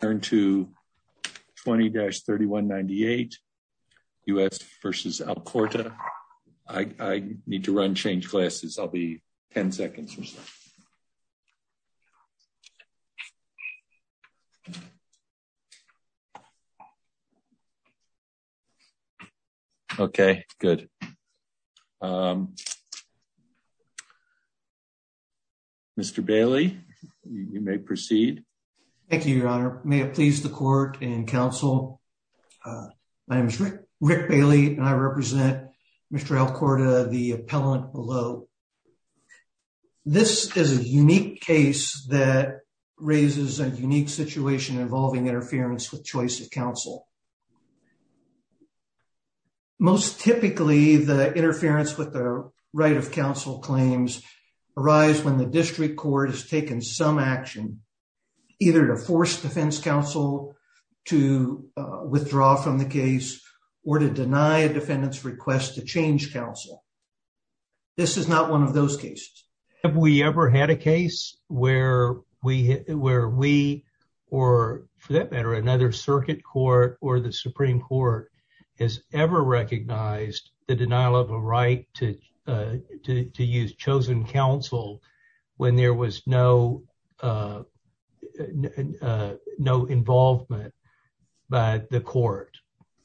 turn to 20-3198 U.S. v. Alcorta. I need to run, change classes. I'll be 10 seconds. Okay, good. Mr. Bailey, you may proceed. Thank you, Your Honor. May it please the court and counsel, my name is Rick Bailey and I represent Mr. Alcorta, the appellant below. This is a unique case that raises a unique situation involving interference with choice of counsel. Most typically, the interference with the right of counsel claims arise when the district court has taken some action either to force defense counsel to withdraw from the case or to deny a defendant's request to change counsel. This is not one of those cases. Have we ever had a case? Where we, or for that matter, another circuit court or the Supreme Court has ever recognized the denial of a right to use chosen counsel when there was no involvement by the court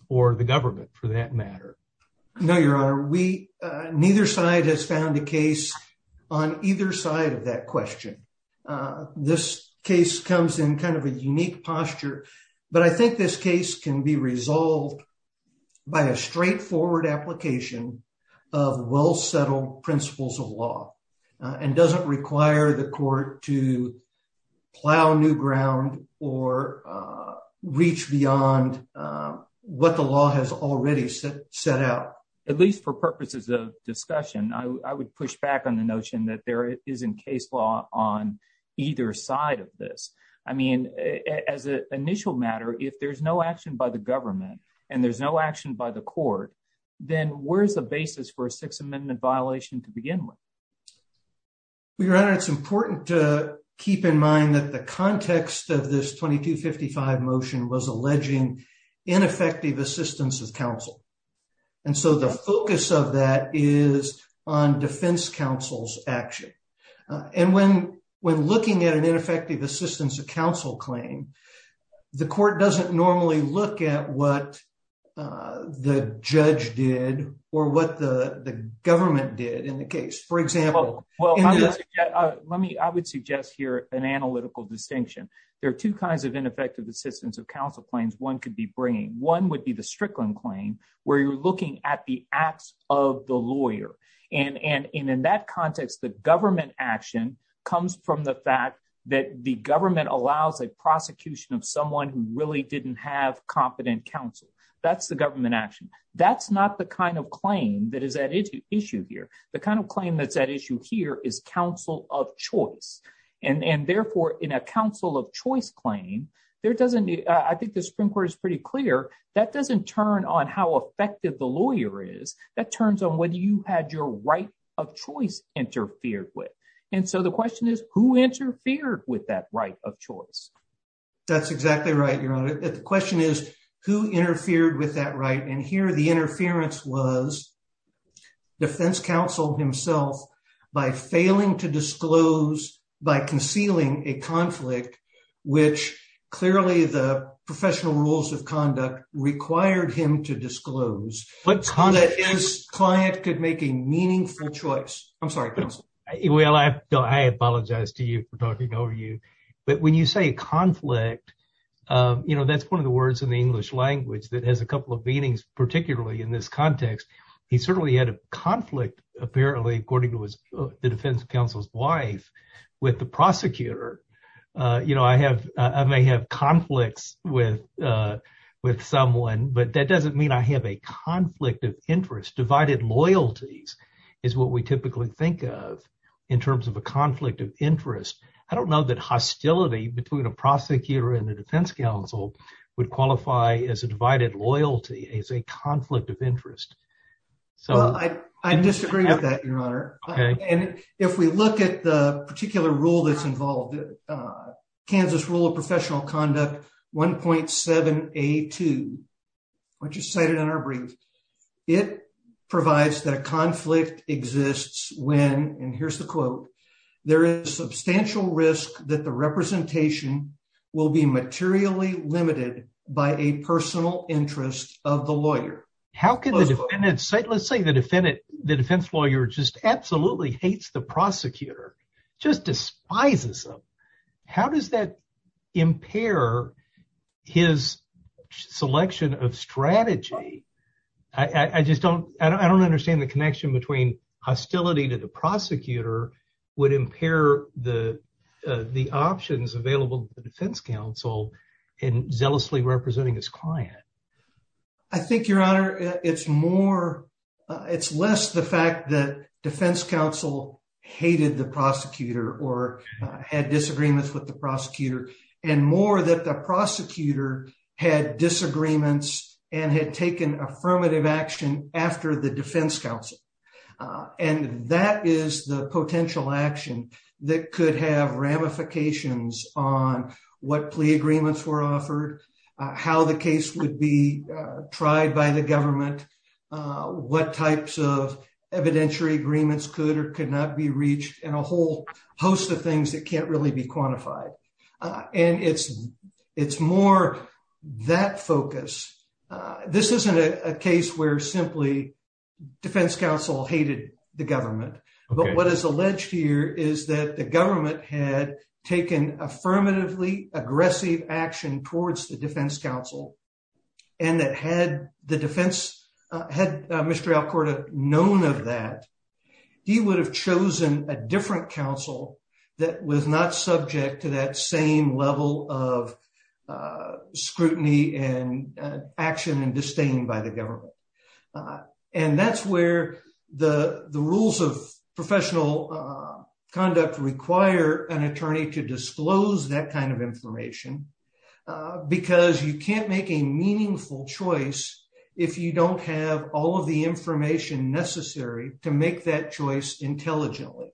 or the government for that matter? No, Your Honor. Neither side has found a case on either side of that question. This case comes in kind of a unique posture, but I think this case can be resolved by a straightforward application of well-settled principles of law and doesn't require the court to plow new ground or reach beyond what the law has already set out. At least for purposes of discussion, I would push back on the notion that there isn't case law on either side of this. I mean, as an initial matter, if there's no action by the government and there's no action by the court, then where's the basis for a Sixth Amendment violation to begin with? Your Honor, it's important to keep in mind that the context of this 2255 motion was alleging ineffective assistance of counsel. And so the focus of that is on defense counsel's action. And when looking at an ineffective assistance of counsel claim, the court doesn't normally look at what the judge did or what the government did in the case. Well, I would suggest here an analytical distinction. There are two kinds of ineffective assistance of counsel claims one could be bringing. One would be the Strickland claim, where you're looking at the acts of the lawyer. And in that context, the government action comes from the fact that the government allows a prosecution of someone who really didn't have competent counsel. That's the government action. That's not the kind of claim that is at issue here. The kind of claim that's at issue here is counsel of choice. And therefore, in a counsel of choice claim, I think the Supreme Court is pretty clear, that doesn't turn on how effective the lawyer is. That turns on whether you had your right of choice interfered with. And so the question is, who interfered with that right of choice? That's exactly right, Your Honor. The interfered with that right. And here the interference was defense counsel himself, by failing to disclose, by concealing a conflict, which clearly the professional rules of conduct required him to disclose. But his client could make a meaningful choice. I'm sorry, counsel. Well, I apologize to you for talking over you. But when you say conflict, you know, that's one of the words in the English language that has a couple of meanings, particularly in this context. He certainly had a conflict, apparently, according to the defense counsel's wife, with the prosecutor. You know, I may have conflicts with someone, but that doesn't mean I have a conflict of interest. Divided loyalties is what we typically think of in that context. I don't know that hostility between a prosecutor and the defense counsel would qualify as a divided loyalty, as a conflict of interest. So I disagree with that, Your Honor. And if we look at the particular rule that's involved, Kansas Rule of Professional Conduct 1.7A2, which is cited in our brief, it provides that a conflict exists when, and here's the quote, there is substantial risk that the representation will be materially limited by a personal interest of the lawyer. How can the defendant, let's say the defense lawyer just absolutely hates the prosecutor, just despises him. How does that impair his selection of strategy? I just don't, I don't understand the connection between hostility to the prosecutor would impair the options available to the defense counsel in zealously representing his client. I think, Your Honor, it's more, it's less the fact that defense counsel hated the prosecutor or had disagreements with the prosecutor, and more that the prosecutor had disagreements and had affirmative action after the defense counsel. And that is the potential action that could have ramifications on what plea agreements were offered, how the case would be tried by the government, what types of evidentiary agreements could or could not be reached, and a whole host of things that can't really be quantified. And it's, it's more that focus. This isn't a case where simply defense counsel hated the government. But what is alleged here is that the government had taken affirmatively aggressive action towards the defense counsel. And that had the defense, had Mr. Alcorta known of that, he would have chosen a different counsel that was not subject to that same level of scrutiny and action and disdain by the government. And that's where the rules of professional conduct require an attorney to disclose that kind of information. Because you can't make a meaningful choice if you don't have all of the information necessary to make that choice intelligently.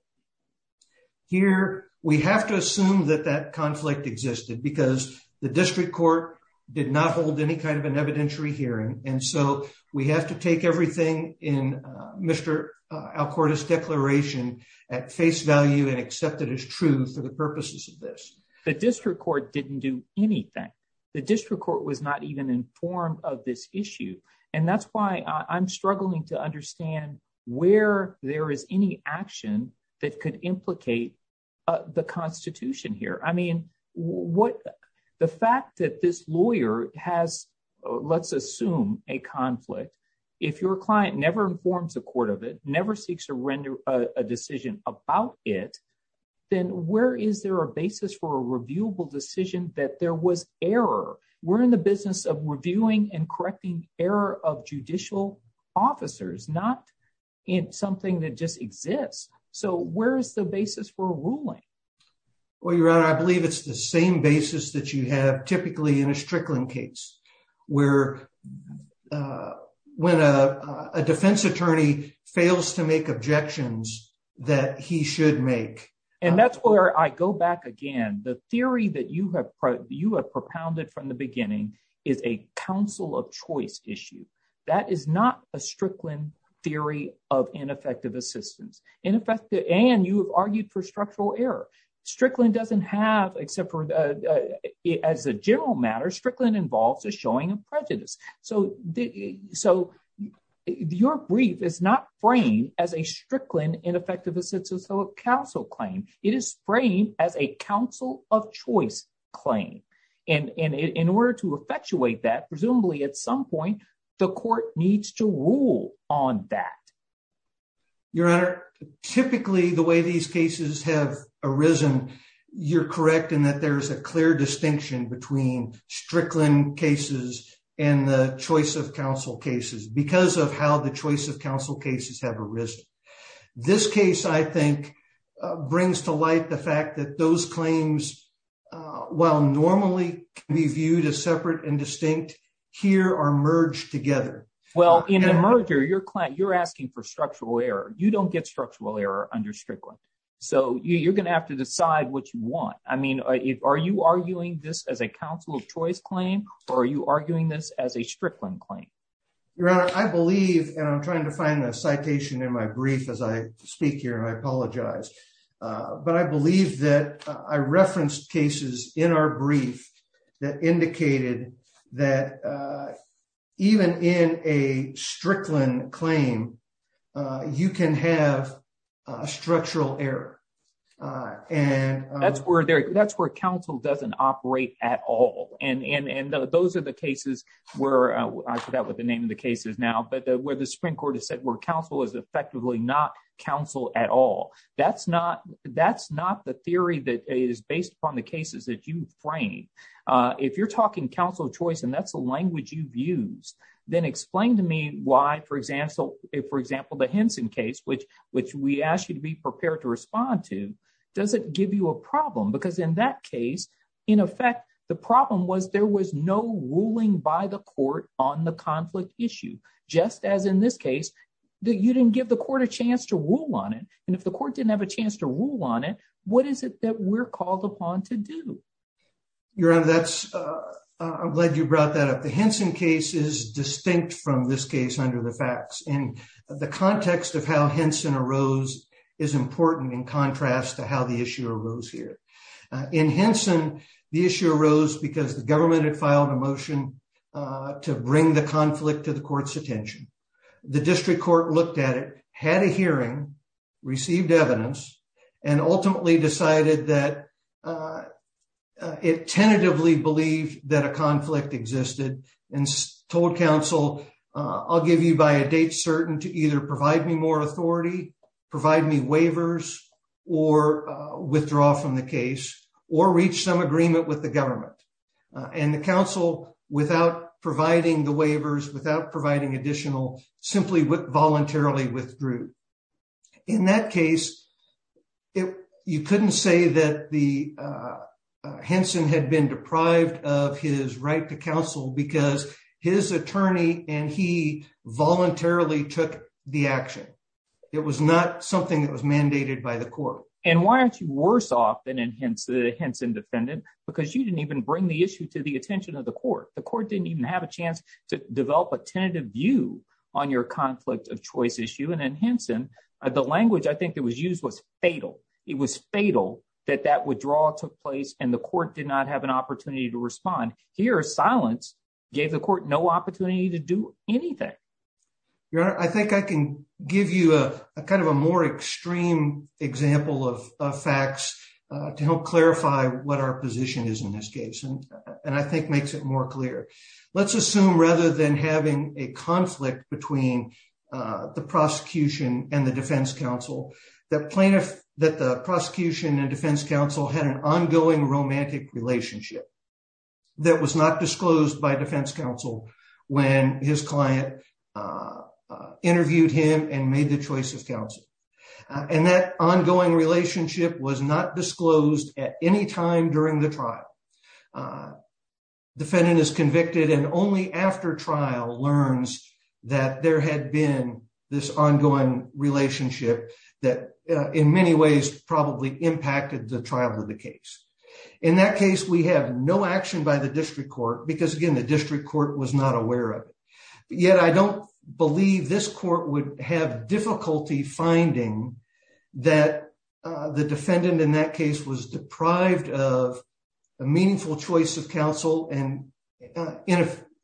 Here, we have to assume that that conflict existed because the district court did not hold any kind of an evidentiary hearing. And so we have to take everything in Mr. Alcorta's declaration at face value and accept it as true to the purposes of this. The district court didn't do anything. The district court was not even informed of this issue. And that's why I'm struggling to understand where there is any action that could implicate the Constitution here. I mean, what the fact that this lawyer has, let's assume a conflict, if your client never informs the court of it never seeks to render a decision about it, then where is there a basis for a reviewable decision that there was error? We're in the business of reviewing and correcting error of judicial officers, not in something that just exists. So where's the basis for a ruling? Well, Your Honor, I believe it's the same basis that you have typically in a Strickland case, where when a defense attorney fails to make objections that he should make. And that's where I go back again, the theory that you have propounded from the beginning is a counsel of choice issue. That is not a Strickland theory of ineffective assistance. In effect, and you have argued for structural error. Strickland doesn't have except for as a general matter, Strickland involves a showing of prejudice. So your brief is not framed as a Strickland ineffective assistance of counsel claim, it is framed as a counsel of choice claim. And in order to effectuate that presumably at some point, the court needs to rule on that. Your Honor, typically the way these cases have arisen, you're correct in that there's clear distinction between Strickland cases and the choice of counsel cases because of how the choice of counsel cases have arisen. This case, I think, brings to light the fact that those claims, while normally can be viewed as separate and distinct, here are merged together. Well, in the merger, you're asking for structural error. You don't get structural error under Strickland. So you're going to have to decide what you want. I mean, are you arguing this as a counsel of choice claim, or are you arguing this as a Strickland claim? Your Honor, I believe, and I'm trying to find the citation in my brief as I speak here, I apologize. But I believe that I referenced cases in our brief that indicated that even in a Strickland claim, you can have structural error. That's where counsel doesn't operate at all. And those are the cases where, I forgot what the name of the case is now, but where the Supreme Court has said where counsel is effectively not counsel at all. That's not the theory that is based upon the cases that you frame. If you're talking counsel of choice, and that's the language you've used, then explain to me why, for example, the Henson case, which we asked you to be prepared to respond to, does it give you a problem? Because in that case, in effect, the problem was there was no ruling by the court on the conflict issue, just as in this case, that you didn't give the court a chance to rule on it. And if the court didn't have a chance to rule on it, what is it that we're this case under the facts. And the context of how Henson arose is important in contrast to how the issue arose here. In Henson, the issue arose because the government had filed a motion to bring the conflict to the court's attention. The district court looked at it, had a hearing, received evidence, and ultimately decided that it tentatively believed that a conflict existed and told counsel, I'll give you by a date certain to either provide me more authority, provide me waivers, or withdraw from the case, or reach some agreement with the government. And the counsel, without providing the waivers, without providing additional, simply voluntarily withdrew. In that case, you couldn't say that the Henson had been deprived of his right to counsel because his attorney and he voluntarily took the action. It was not something that was mandated by the court. And why aren't you worse off than a Henson defendant? Because you didn't even bring the issue to the attention of the court. The court didn't even have a chance to develop a tentative view on your conflict of choice issue. And in Henson, the language I think that was used was fatal. It was fatal that that withdrawal took place, and the court did not have an opportunity to respond. Here, silence gave the court no opportunity to do anything. Your Honor, I think I can give you a kind of a more extreme example of facts to help clarify what our position is in this case, and I think makes it more clear. Let's assume rather than having a conflict between the prosecution and the defense counsel, that the prosecution and defense counsel had an ongoing romantic relationship that was not disclosed by defense counsel when his client interviewed him and made the choice of counsel. And that ongoing relationship was not disclosed at any time during the trial. Defendant is convicted and only after trial learns that there had been this ongoing relationship that in many ways probably impacted the trial of the case. In that case, we have no action by the district court because again, the district court was not aware of it. Yet I don't believe this court would have difficulty finding that the defendant in that case was deprived of a meaningful choice of counsel and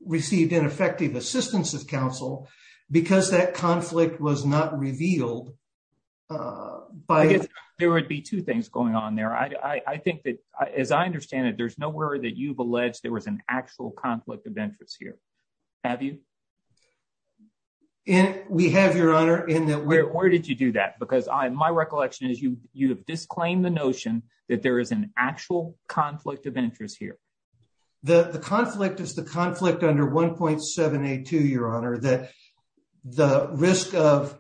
received ineffective assistance of counsel because that conflict was not revealed. There would be two things going on there. I think that as I understand it, there's nowhere that you've alleged there was an actual conflict of interest here. Have you? We have, Your Honor. Where did you do that? Because my recollection is you have disclaimed the notion that there is an actual conflict of interest here. The conflict is the conflict under 1.782, Your Honor, that the risk of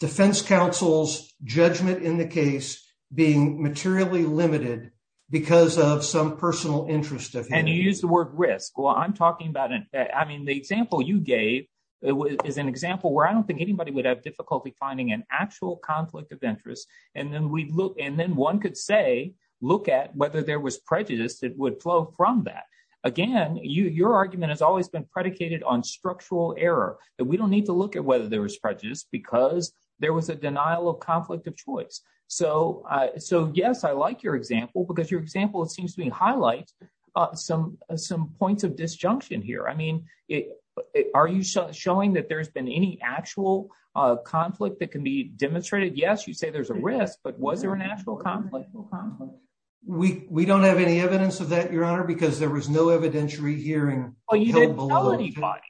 defense counsel's judgment in the case being materially limited because of some personal interest of him. And you use the word risk. Well, I'm talking about an, I mean, the example you gave is an example where I don't think anybody would have difficulty finding an actual conflict of interest. And then we look, and then one could say, look at whether there was prejudice that would flow from that. Again, your argument has always been predicated on structural error, that we don't need to look at whether there was prejudice because there was a denial of conflict of choice. So yes, I like your example because your example, it seems to me, highlights some points of disjunction here. I mean, are you showing that there's been any actual conflict that can be demonstrated? Yes, you say there's a risk, but was there an actual conflict? We don't have any evidence of that, Your Honor, because there was no evidentiary hearing. Oh, you didn't tell anybody.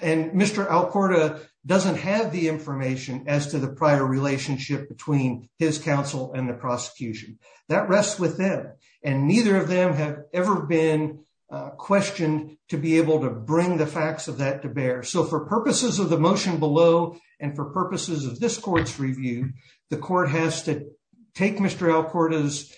And Mr. Alcorta doesn't have the information as to the prior relationship between his counsel and the prosecution. That rests with them. And neither of them have ever been questioned to be able to bring the facts of that to bear. So for purposes of the motion below and for purposes of this court's review, the court has to take Mr. Alcorta's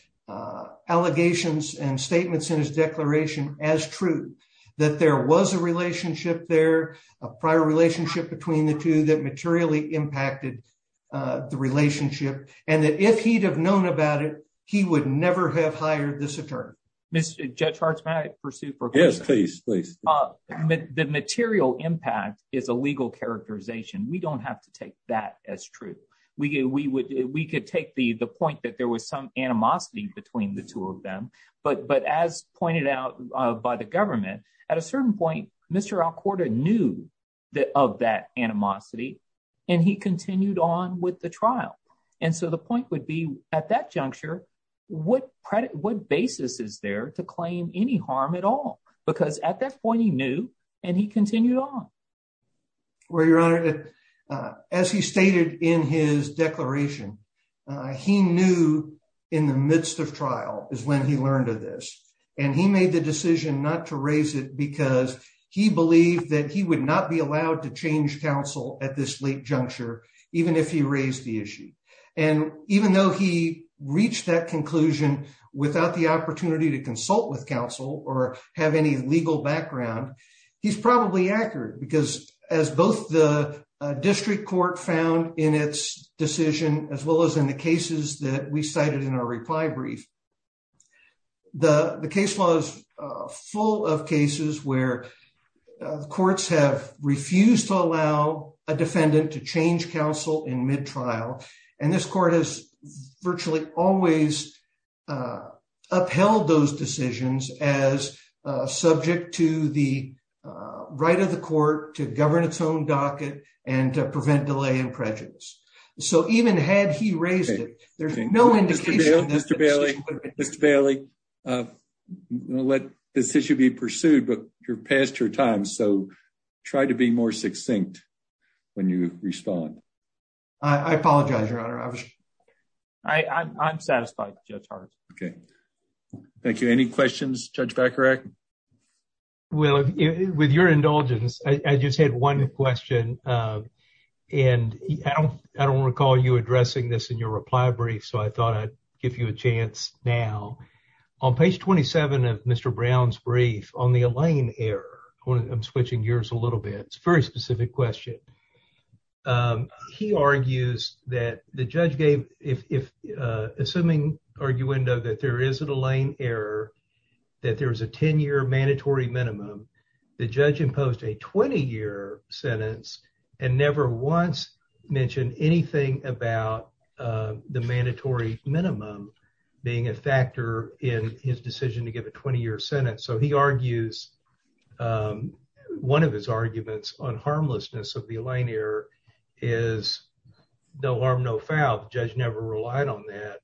allegations and statements in his declaration as true, that there was a relationship there, a prior relationship between the two that materially impacted the relationship, and that if he'd have known about it, he would never have hired this attorney. Judge Harts, may I pursue for a question? Yes, please. The material impact is a legal characterization. We don't have to take that as true. We could take the point that there was some animosity between the two of them. But as pointed out by the government, at a certain point, Mr. Alcorta knew of that animosity, and he continued on with the trial. And so the point would be, at that juncture, what basis is there to claim any harm at all? Because at that point, he knew, and he continued on. Well, Your Honor, as he stated in his declaration, he knew in the midst of trial is when he learned of this. And he made the decision not to raise it because he believed that he would not be allowed to change counsel at this late juncture, even if he raised the issue. And even though he reached that conclusion without the opportunity to consult with counsel or have any legal background, he's probably accurate. Because as both the district court found in its decision, as well as in the cases that we cited in our reply brief, the case law is full of cases where courts have refused to allow a defendant to change counsel in mid-trial. And this court has virtually always upheld those decisions as subject to the right of the court to govern its own docket and to prevent delay and prejudice. So even had he raised it, there's no indication that the decision would have been changed. Mr. Bailey, I'm going to let this issue be pursued, but you're past your time, so try to be more succinct when you respond. I apologize, Your Honor. I'm satisfied, Judge Hart. Okay, thank you. Any questions, Judge Vacarac? Well, with your indulgence, I just had one question. And I don't recall you addressing this in your reply brief, so I thought I'd give you a chance now. On page 27 of Mr. Brown's brief, on the Allain error, I'm switching gears a little bit. It's a very specific question. He argues that the judge gave, assuming arguendo that there is an Allain error, that there is a 10-year mandatory minimum, the judge imposed a 20-year sentence and never once mentioned anything about the mandatory minimum being a factor in his decision to give a 20-year sentence. So he argues one of his arguments on harmlessness of the Allain error is no harm, no foul. The judge never relied on that.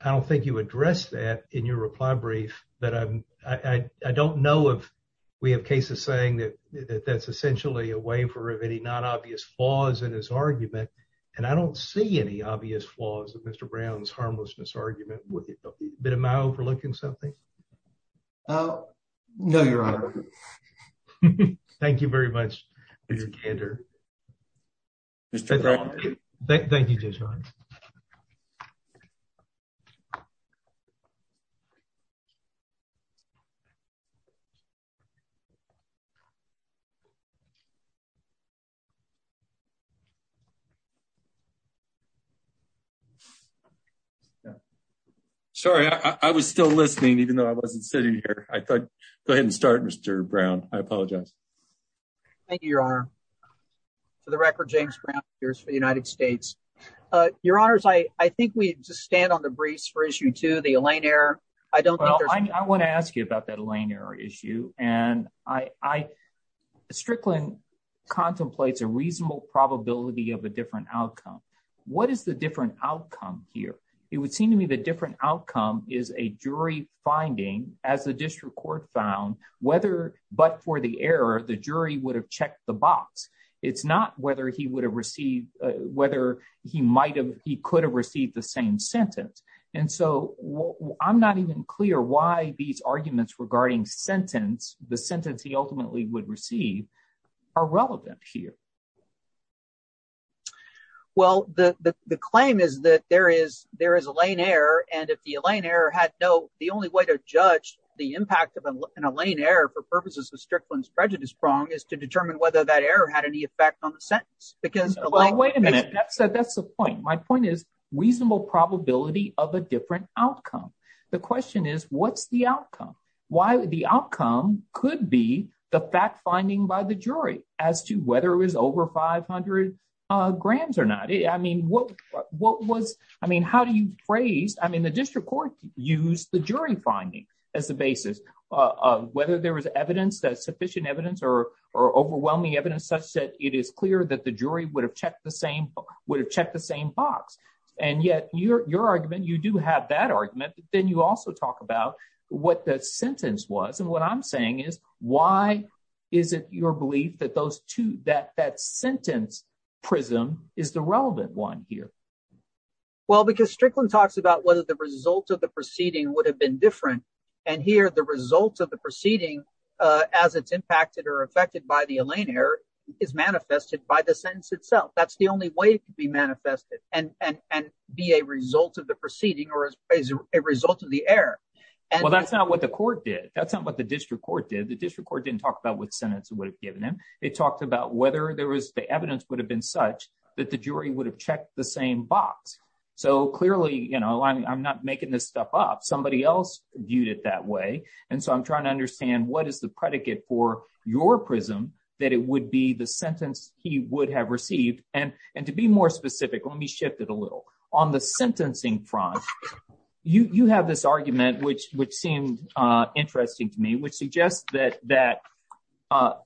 I don't think you addressed that in your reply brief, but I don't know if we have cases saying that that's essentially a waiver of any non-obvious flaws in his argument. And I don't see any obvious flaws in Mr. Brown's reply brief. Mr. Brown, are you overlooking something? Oh, no, Your Honor. Thank you very much, Mr. Kander. Thank you, Judge Barnes. Okay. Sorry, I was still listening, even though I wasn't sitting here. I thought, go ahead and start, Mr. Brown. I apologize. Thank you, Your Honor. For the record, James Brown, jurors for the United States. Your Honors, I think we just stand on the briefs for issue two, the Allain error. Well, I want to ask you about that Allain error issue. Strickland contemplates a reasonable probability of a different outcome. What is the different outcome here? It would seem to me the different outcome is a jury finding, as the district court found, whether but for the error, the jury would have checked the box. It's not whether he would receive whether he might have, he could have received the same sentence. And so I'm not even clear why these arguments regarding sentence, the sentence he ultimately would receive, are relevant here. Well, the claim is that there is a Allain error. And if the Allain error had no, the only way to judge the impact of an Allain error for purposes of Strickland's prejudice prong is to wait a minute. That's that's the point. My point is reasonable probability of a different outcome. The question is, what's the outcome? Why the outcome could be the fact finding by the jury as to whether it was over 500 grams or not. I mean, what what was I mean, how do you phrase I mean, the district court use the jury finding as the basis of whether there was evidence that or overwhelming evidence such that it is clear that the jury would have checked the same, would have checked the same box. And yet your argument, you do have that argument, then you also talk about what the sentence was. And what I'm saying is, why is it your belief that those two that that sentence prism is the relevant one here? Well, because Strickland talks about whether the result of the proceeding would have been different. And here, the result of the proceeding, as it's impacted or affected by the Allain error is manifested by the sentence itself. That's the only way to be manifested and and be a result of the proceeding or as a result of the error. And well, that's not what the court did. That's not what the district court did. The district court didn't talk about what sentence would have given him. It talked about whether there was the evidence would have been such that the jury would have checked the same box. So clearly, you know, I'm not making this stuff up. Somebody else viewed it that way. And so I'm trying to understand what is the predicate for your prism, that it would be the sentence he would have received. And and to be more specific, let me shift it a little on the sentencing front. You have this argument, which which seemed interesting to me, which suggests that that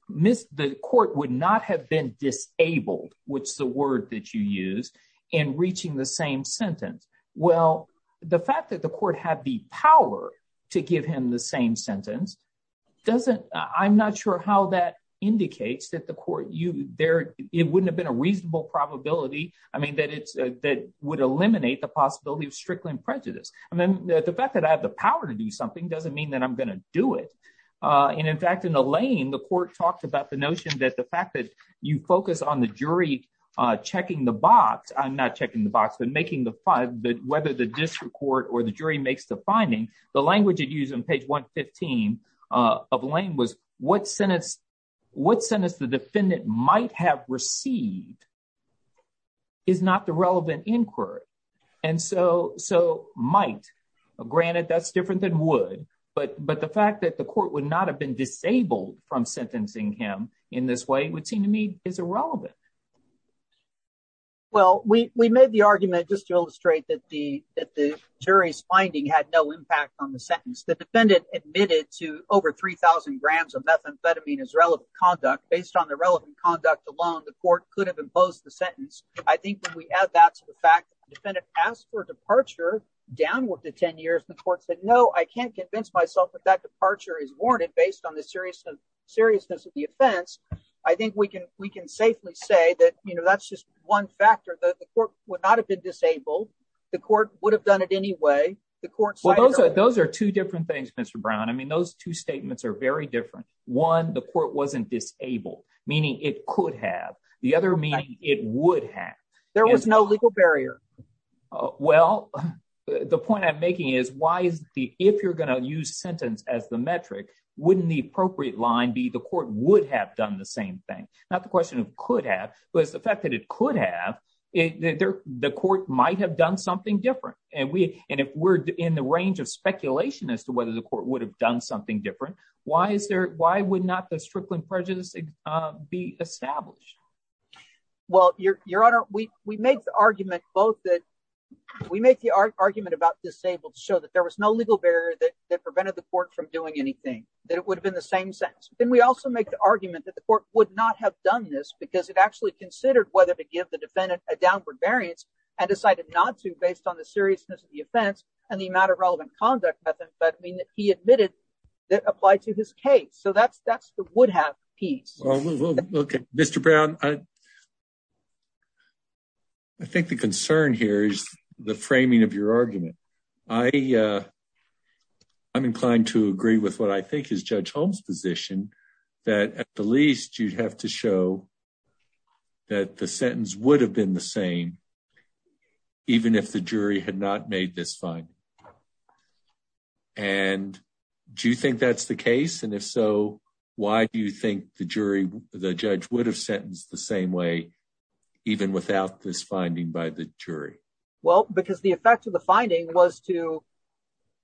missed the court would not have been disabled, which the word that you use in reaching the same sentence. Well, the fact that the court had the power to give him the same sentence doesn't I'm not sure how that indicates that the court you there it wouldn't have been a reasonable probability. I mean, that it's that would eliminate the possibility of Strickland prejudice. I mean, the fact that I have the power to do something doesn't mean that I'm going to do it. And in fact, in the lane, the court talked about the notion that the fact that you focus on the jury checking the box, I'm not checking the box, making the five that whether the district court or the jury makes the finding, the language you'd use on page 115 of lane was what sentence what sentence the defendant might have received is not the relevant inquiry. And so so might granted, that's different than would. But But the fact that the court would not have been disabled from sentencing him in this way would is irrelevant. Well, we made the argument just to illustrate that the that the jury's finding had no impact on the sentence, the defendant admitted to over 3000 grams of methamphetamine is relevant conduct based on the relevant conduct alone, the court could have imposed the sentence. I think when we add that to the fact defendant asked for departure down with the 10 years, the court said, No, I can't convince myself that that departure is warranted based on the seriousness of the offense. I think we can we can safely say that, you know, that's just one factor that the court would not have been disabled. The court would have done it anyway. The courts, those are those are two different things, Mr. Brown. I mean, those two statements are very different. One, the court wasn't disabled, meaning it could have the other meaning it would have there was no legal barrier. Well, the point I'm making is why is the if you're be the court would have done the same thing? Not the question of could have was the fact that it could have it there, the court might have done something different. And we and if we're in the range of speculation as to whether the court would have done something different. Why is there? Why would not the strickling prejudice be established? Well, your your honor, we we make the argument both that we make the argument about disabled show that there was no legal barrier that prevented the court from doing anything that it would have been the same sense. Then we also make the argument that the court would not have done this because it actually considered whether to give the defendant a downward variance and decided not to based on the seriousness of the offense and the amount of relevant conduct. But I mean, he admitted that applied to his case. So that's that's the would have piece. Mr. Brown. I think the concern here is the framing of your argument. I I'm inclined to agree with what I think is Judge Holmes position that at the least, you'd have to show that the sentence would have been the same even if the jury had not made this fine. And do you think that's the case? And if so, why do you think the jury, the judge would have sentenced the same way even without this finding by the jury? Well, because the effect of the finding was to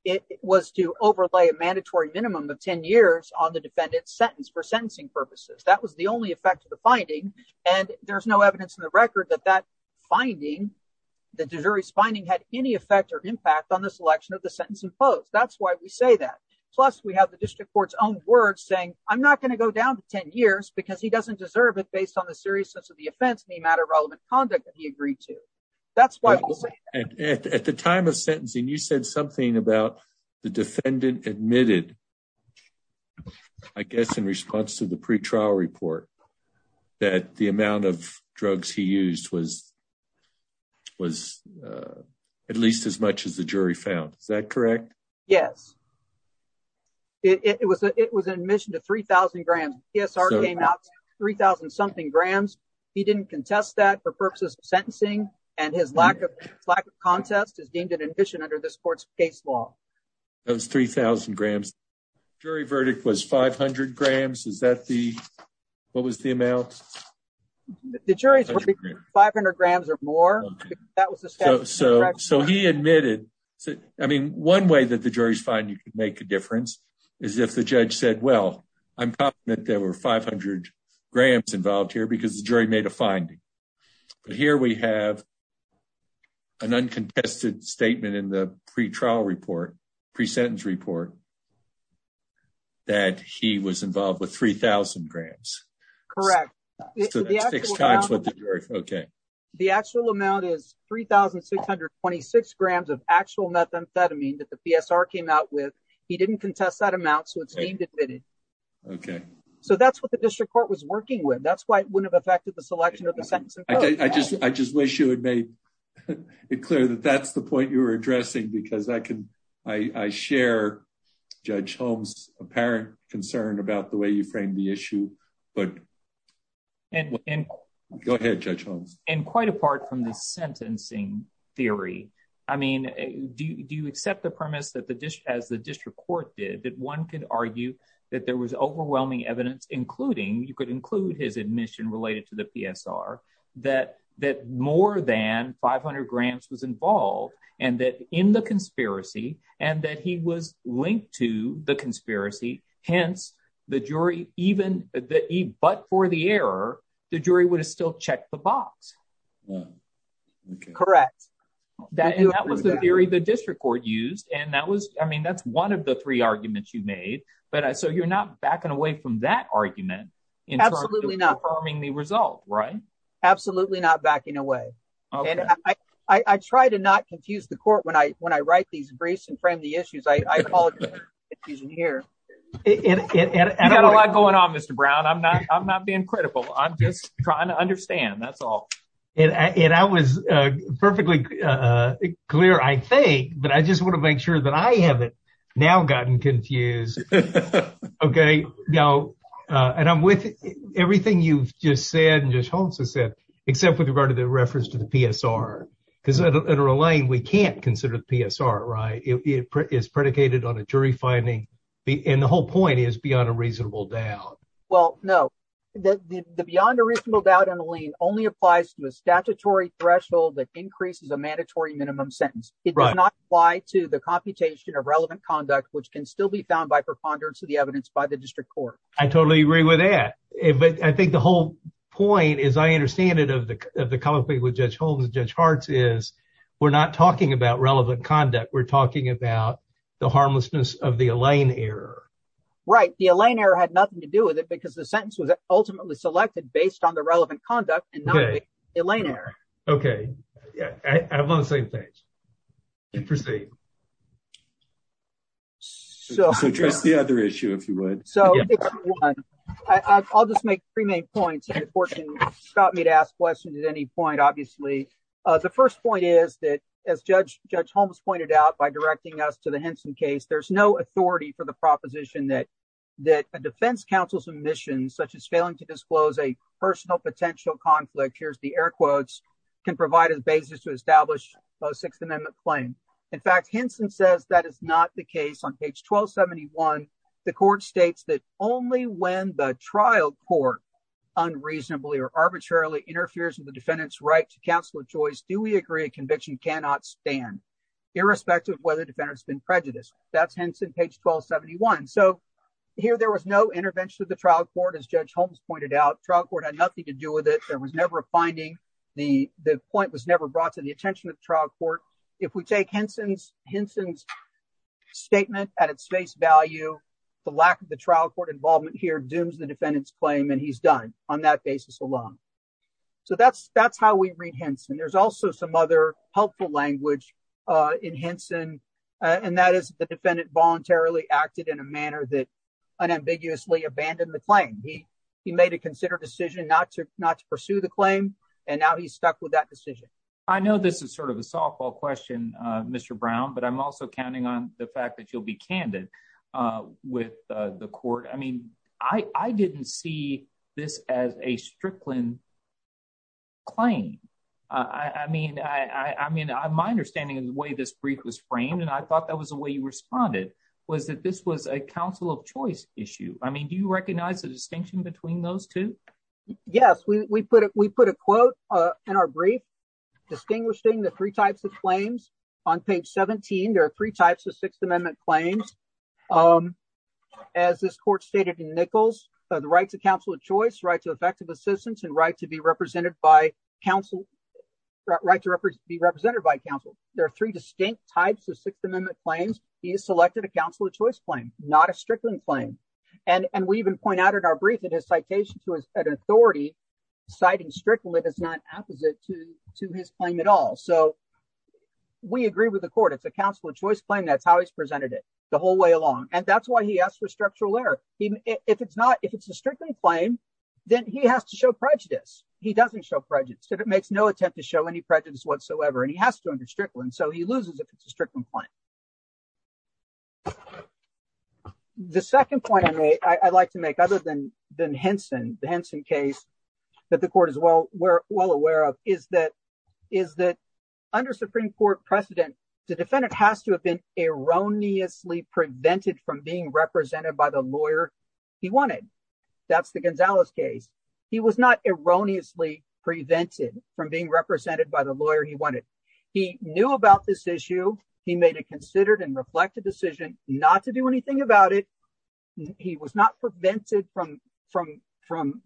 it was to overlay a mandatory minimum of 10 years on the defendant's sentence for sentencing purposes. That was the only effect of the finding. And there's no evidence in the record that that finding, the jury's finding had any effect or impact on the selection of the sentence imposed. That's why we say that. Plus, we have the district court's own words saying I'm not going to go down to 10 years because he doesn't deserve it based on the seriousness of offense, the amount of relevant conduct that he agreed to. That's why at the time of sentencing, you said something about the defendant admitted, I guess, in response to the pre-trial report that the amount of drugs he used was was at least as much as the jury found. Is that correct? Yes. It was an admission to 3,000 grams. PSR came out 3,000 something grams. He didn't contest that for purposes of sentencing and his lack of contest is deemed an admission under this court's case law. That was 3,000 grams. Jury verdict was 500 grams. Is that the, what was the amount? The jury's verdict was 500 grams or more. So he admitted, I mean, one way that the jury's finding could make a difference is if the judge said, well, I'm confident there were 500 grams involved here because the jury made a finding. But here we have an uncontested statement in the pre-trial report, pre-sentence report, that he was involved with 3,000 grams. Correct. The actual amount is 3,626 grams of actual methamphetamine that the PSR came out with. He didn't contest that amount. So it's deemed admitted. Okay. So that's what the district court was working with. That's why it wouldn't have affected the selection of the sentence. I just wish you had made it clear that that's the point you're addressing because I share Judge Holmes' apparent concern about the way you framed the issue, but... Go ahead, Judge Holmes. And quite apart from the sentencing theory, I mean, do you accept the premise that as the district court did, that one could argue that there was overwhelming evidence, including, you could include his admission related to the PSR, that more than 500 grams was involved, and that in the conspiracy, and that he was linked to the conspiracy, hence the jury even, but for the error, the jury would have still checked the box. Correct. That was the theory the district court used. And that was, I mean, that's one of the three arguments you made. So you're not backing away from that argument in terms of confirming the result, right? Absolutely not backing away. I try to not confuse the court when I write these briefs and frame the issues. I apologize for confusing you here. You've got a lot going on, Mr. Brown. I'm not being critical. I'm just trying to understand. That's all. And I was perfectly clear, I think, but I just want to make sure that I haven't now gotten confused. Okay. Now, and I'm with everything you've just said, and Judge Holmes has said, except with regard to the reference to the PSR, because at Erlane, we can't consider the PSR, right? It is predicated on a jury finding, and the whole point is beyond a reasonable doubt. Well, no. The beyond a reasonable doubt in Erlane only applies to a statutory threshold that increases a mandatory minimum sentence. It does not apply to the computation of relevant conduct, which can still be found by preponderance of the evidence by the district court. I totally agree with that. But I think the whole point, as I understand it, of the comment made with Judge Holmes and Judge Hartz is we're not talking about relevant conduct. We're talking about the harmlessness of the Erlane error. Right. The Erlane error had nothing to do with it because the sentence was ultimately selected based on the relevant conduct and not the Erlane error. Okay. Yeah. I'm on the same page. You proceed. So address the other issue, if you would. So I'll just make three main points that unfortunately stopped me to ask questions at any point, obviously. The first point is that, as Judge Holmes pointed out by directing us to the Henson case, there's no authority for the proposition that a defense counsel's omission, such as failing to disclose a personal potential conflict, here's the air quotes, can provide a basis to establish a Sixth Amendment claim. In fact, Henson says that is not the case. On page 1271, the court states that only when the trial court unreasonably or arbitrarily interferes with the defendant's right to counsel of choice do we agree a conviction cannot stand, irrespective of whether the defendant's been prejudiced. That's Henson, page 1271. So here there was no intervention of the trial court, as Judge Holmes pointed out. Trial court. There was never a finding. The point was never brought to the attention of the trial court. If we take Henson's statement at its face value, the lack of the trial court involvement here dooms the defendant's claim, and he's done on that basis alone. So that's how we read Henson. There's also some other helpful language in Henson, and that is the defendant voluntarily acted in a manner that unambiguously abandoned the claim. He made a considerate decision not to pursue the claim, and now he's stuck with that decision. I know this is sort of a softball question, Mr. Brown, but I'm also counting on the fact that you'll be candid with the court. I mean, I didn't see this as a Strickland claim. I mean, my understanding of the way this brief was framed, and I thought that was the way you responded, was that this was a counsel of choice issue. I mean, do you recognize the distinction between those two? Yes, we put a quote in our brief distinguishing the three types of claims. On page 17, there are three types of Sixth Amendment claims. As this court stated in Nichols, the right to counsel of choice, right to effective assistance, and right to be represented by counsel. There are three distinct types of Sixth Amendment claims. He has selected a counsel of choice claim, not a Strickland claim, and we even point out in our brief that his citation to an authority citing Strickland is not opposite to his claim at all. So we agree with the court. It's a counsel of choice claim. That's how he's presented it the whole way along, and that's why he asked for structural error. If it's not, if it's a Strickland claim, then he has to show prejudice. He doesn't show prejudice if it makes no attempt to show any prejudice whatsoever, and he has to under Strickland, so he loses if it's a Strickland claim. The second point I'd like to make, other than the Henson case that the court is well aware of, is that under Supreme Court precedent, the defendant has to have been erroneously prevented from being represented by the lawyer he wanted. That's the Gonzalez case. He was not erroneously prevented from being represented by the lawyer he wanted. He knew about this issue. He made a considered and reflected decision not to do anything about it. He was not prevented from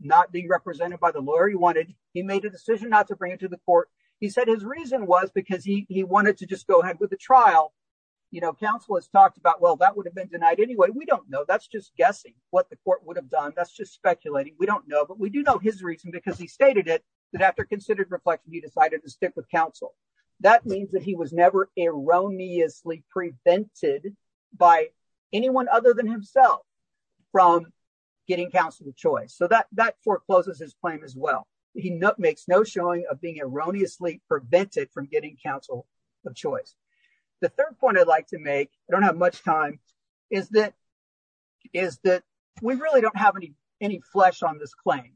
not being represented by the lawyer he wanted. He made a decision not to bring it to the court. He said his reason was because he wanted to just the trial. Counsel has talked about, well, that would have been denied anyway. We don't know. That's just guessing what the court would have done. That's just speculating. We don't know, but we do know his reason because he stated it, that after considered reflection, he decided to stick with counsel. That means that he was never erroneously prevented by anyone other than himself from getting counsel of choice, so that forecloses his claim as well. He makes no of being erroneously prevented from getting counsel of choice. The third point I'd like to make, I don't have much time, is that we really don't have any flesh on this claim.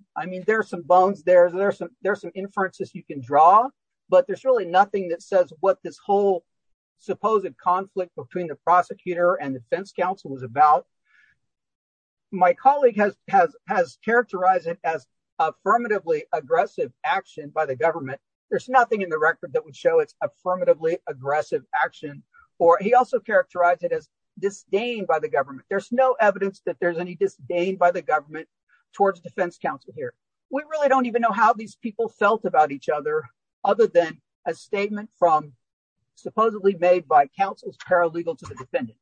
There are some bones there. There are some inferences you can draw, but there's really nothing that says what this whole supposed conflict between the prosecutor and the defense counsel was about. My colleague has characterized it as affirmatively aggressive action by the government. There's nothing in the record that would show it's affirmatively aggressive action, or he also characterized it as disdain by the government. There's no evidence that there's any disdain by the government towards defense counsel here. We really don't even know how these people felt about each other other than a statement from supposedly made by counsel's paralegal to the defendant.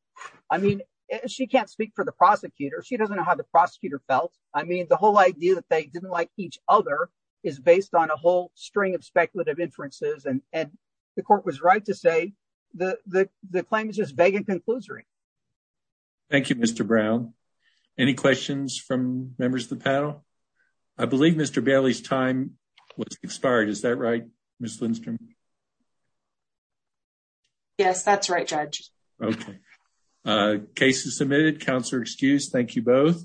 I mean, she can't speak for the prosecutor. She doesn't know how prosecutor felt. I mean, the whole idea that they didn't like each other is based on a whole string of speculative inferences, and the court was right to say the claim is just vague and conclusory. Thank you, Mr. Brown. Any questions from members of the panel? I believe Mr. Bailey's time was expired. Is that right, Ms. Lindstrom? Yes, that's right, Judge. Okay. Case is submitted. Counselor excused. Thank you both.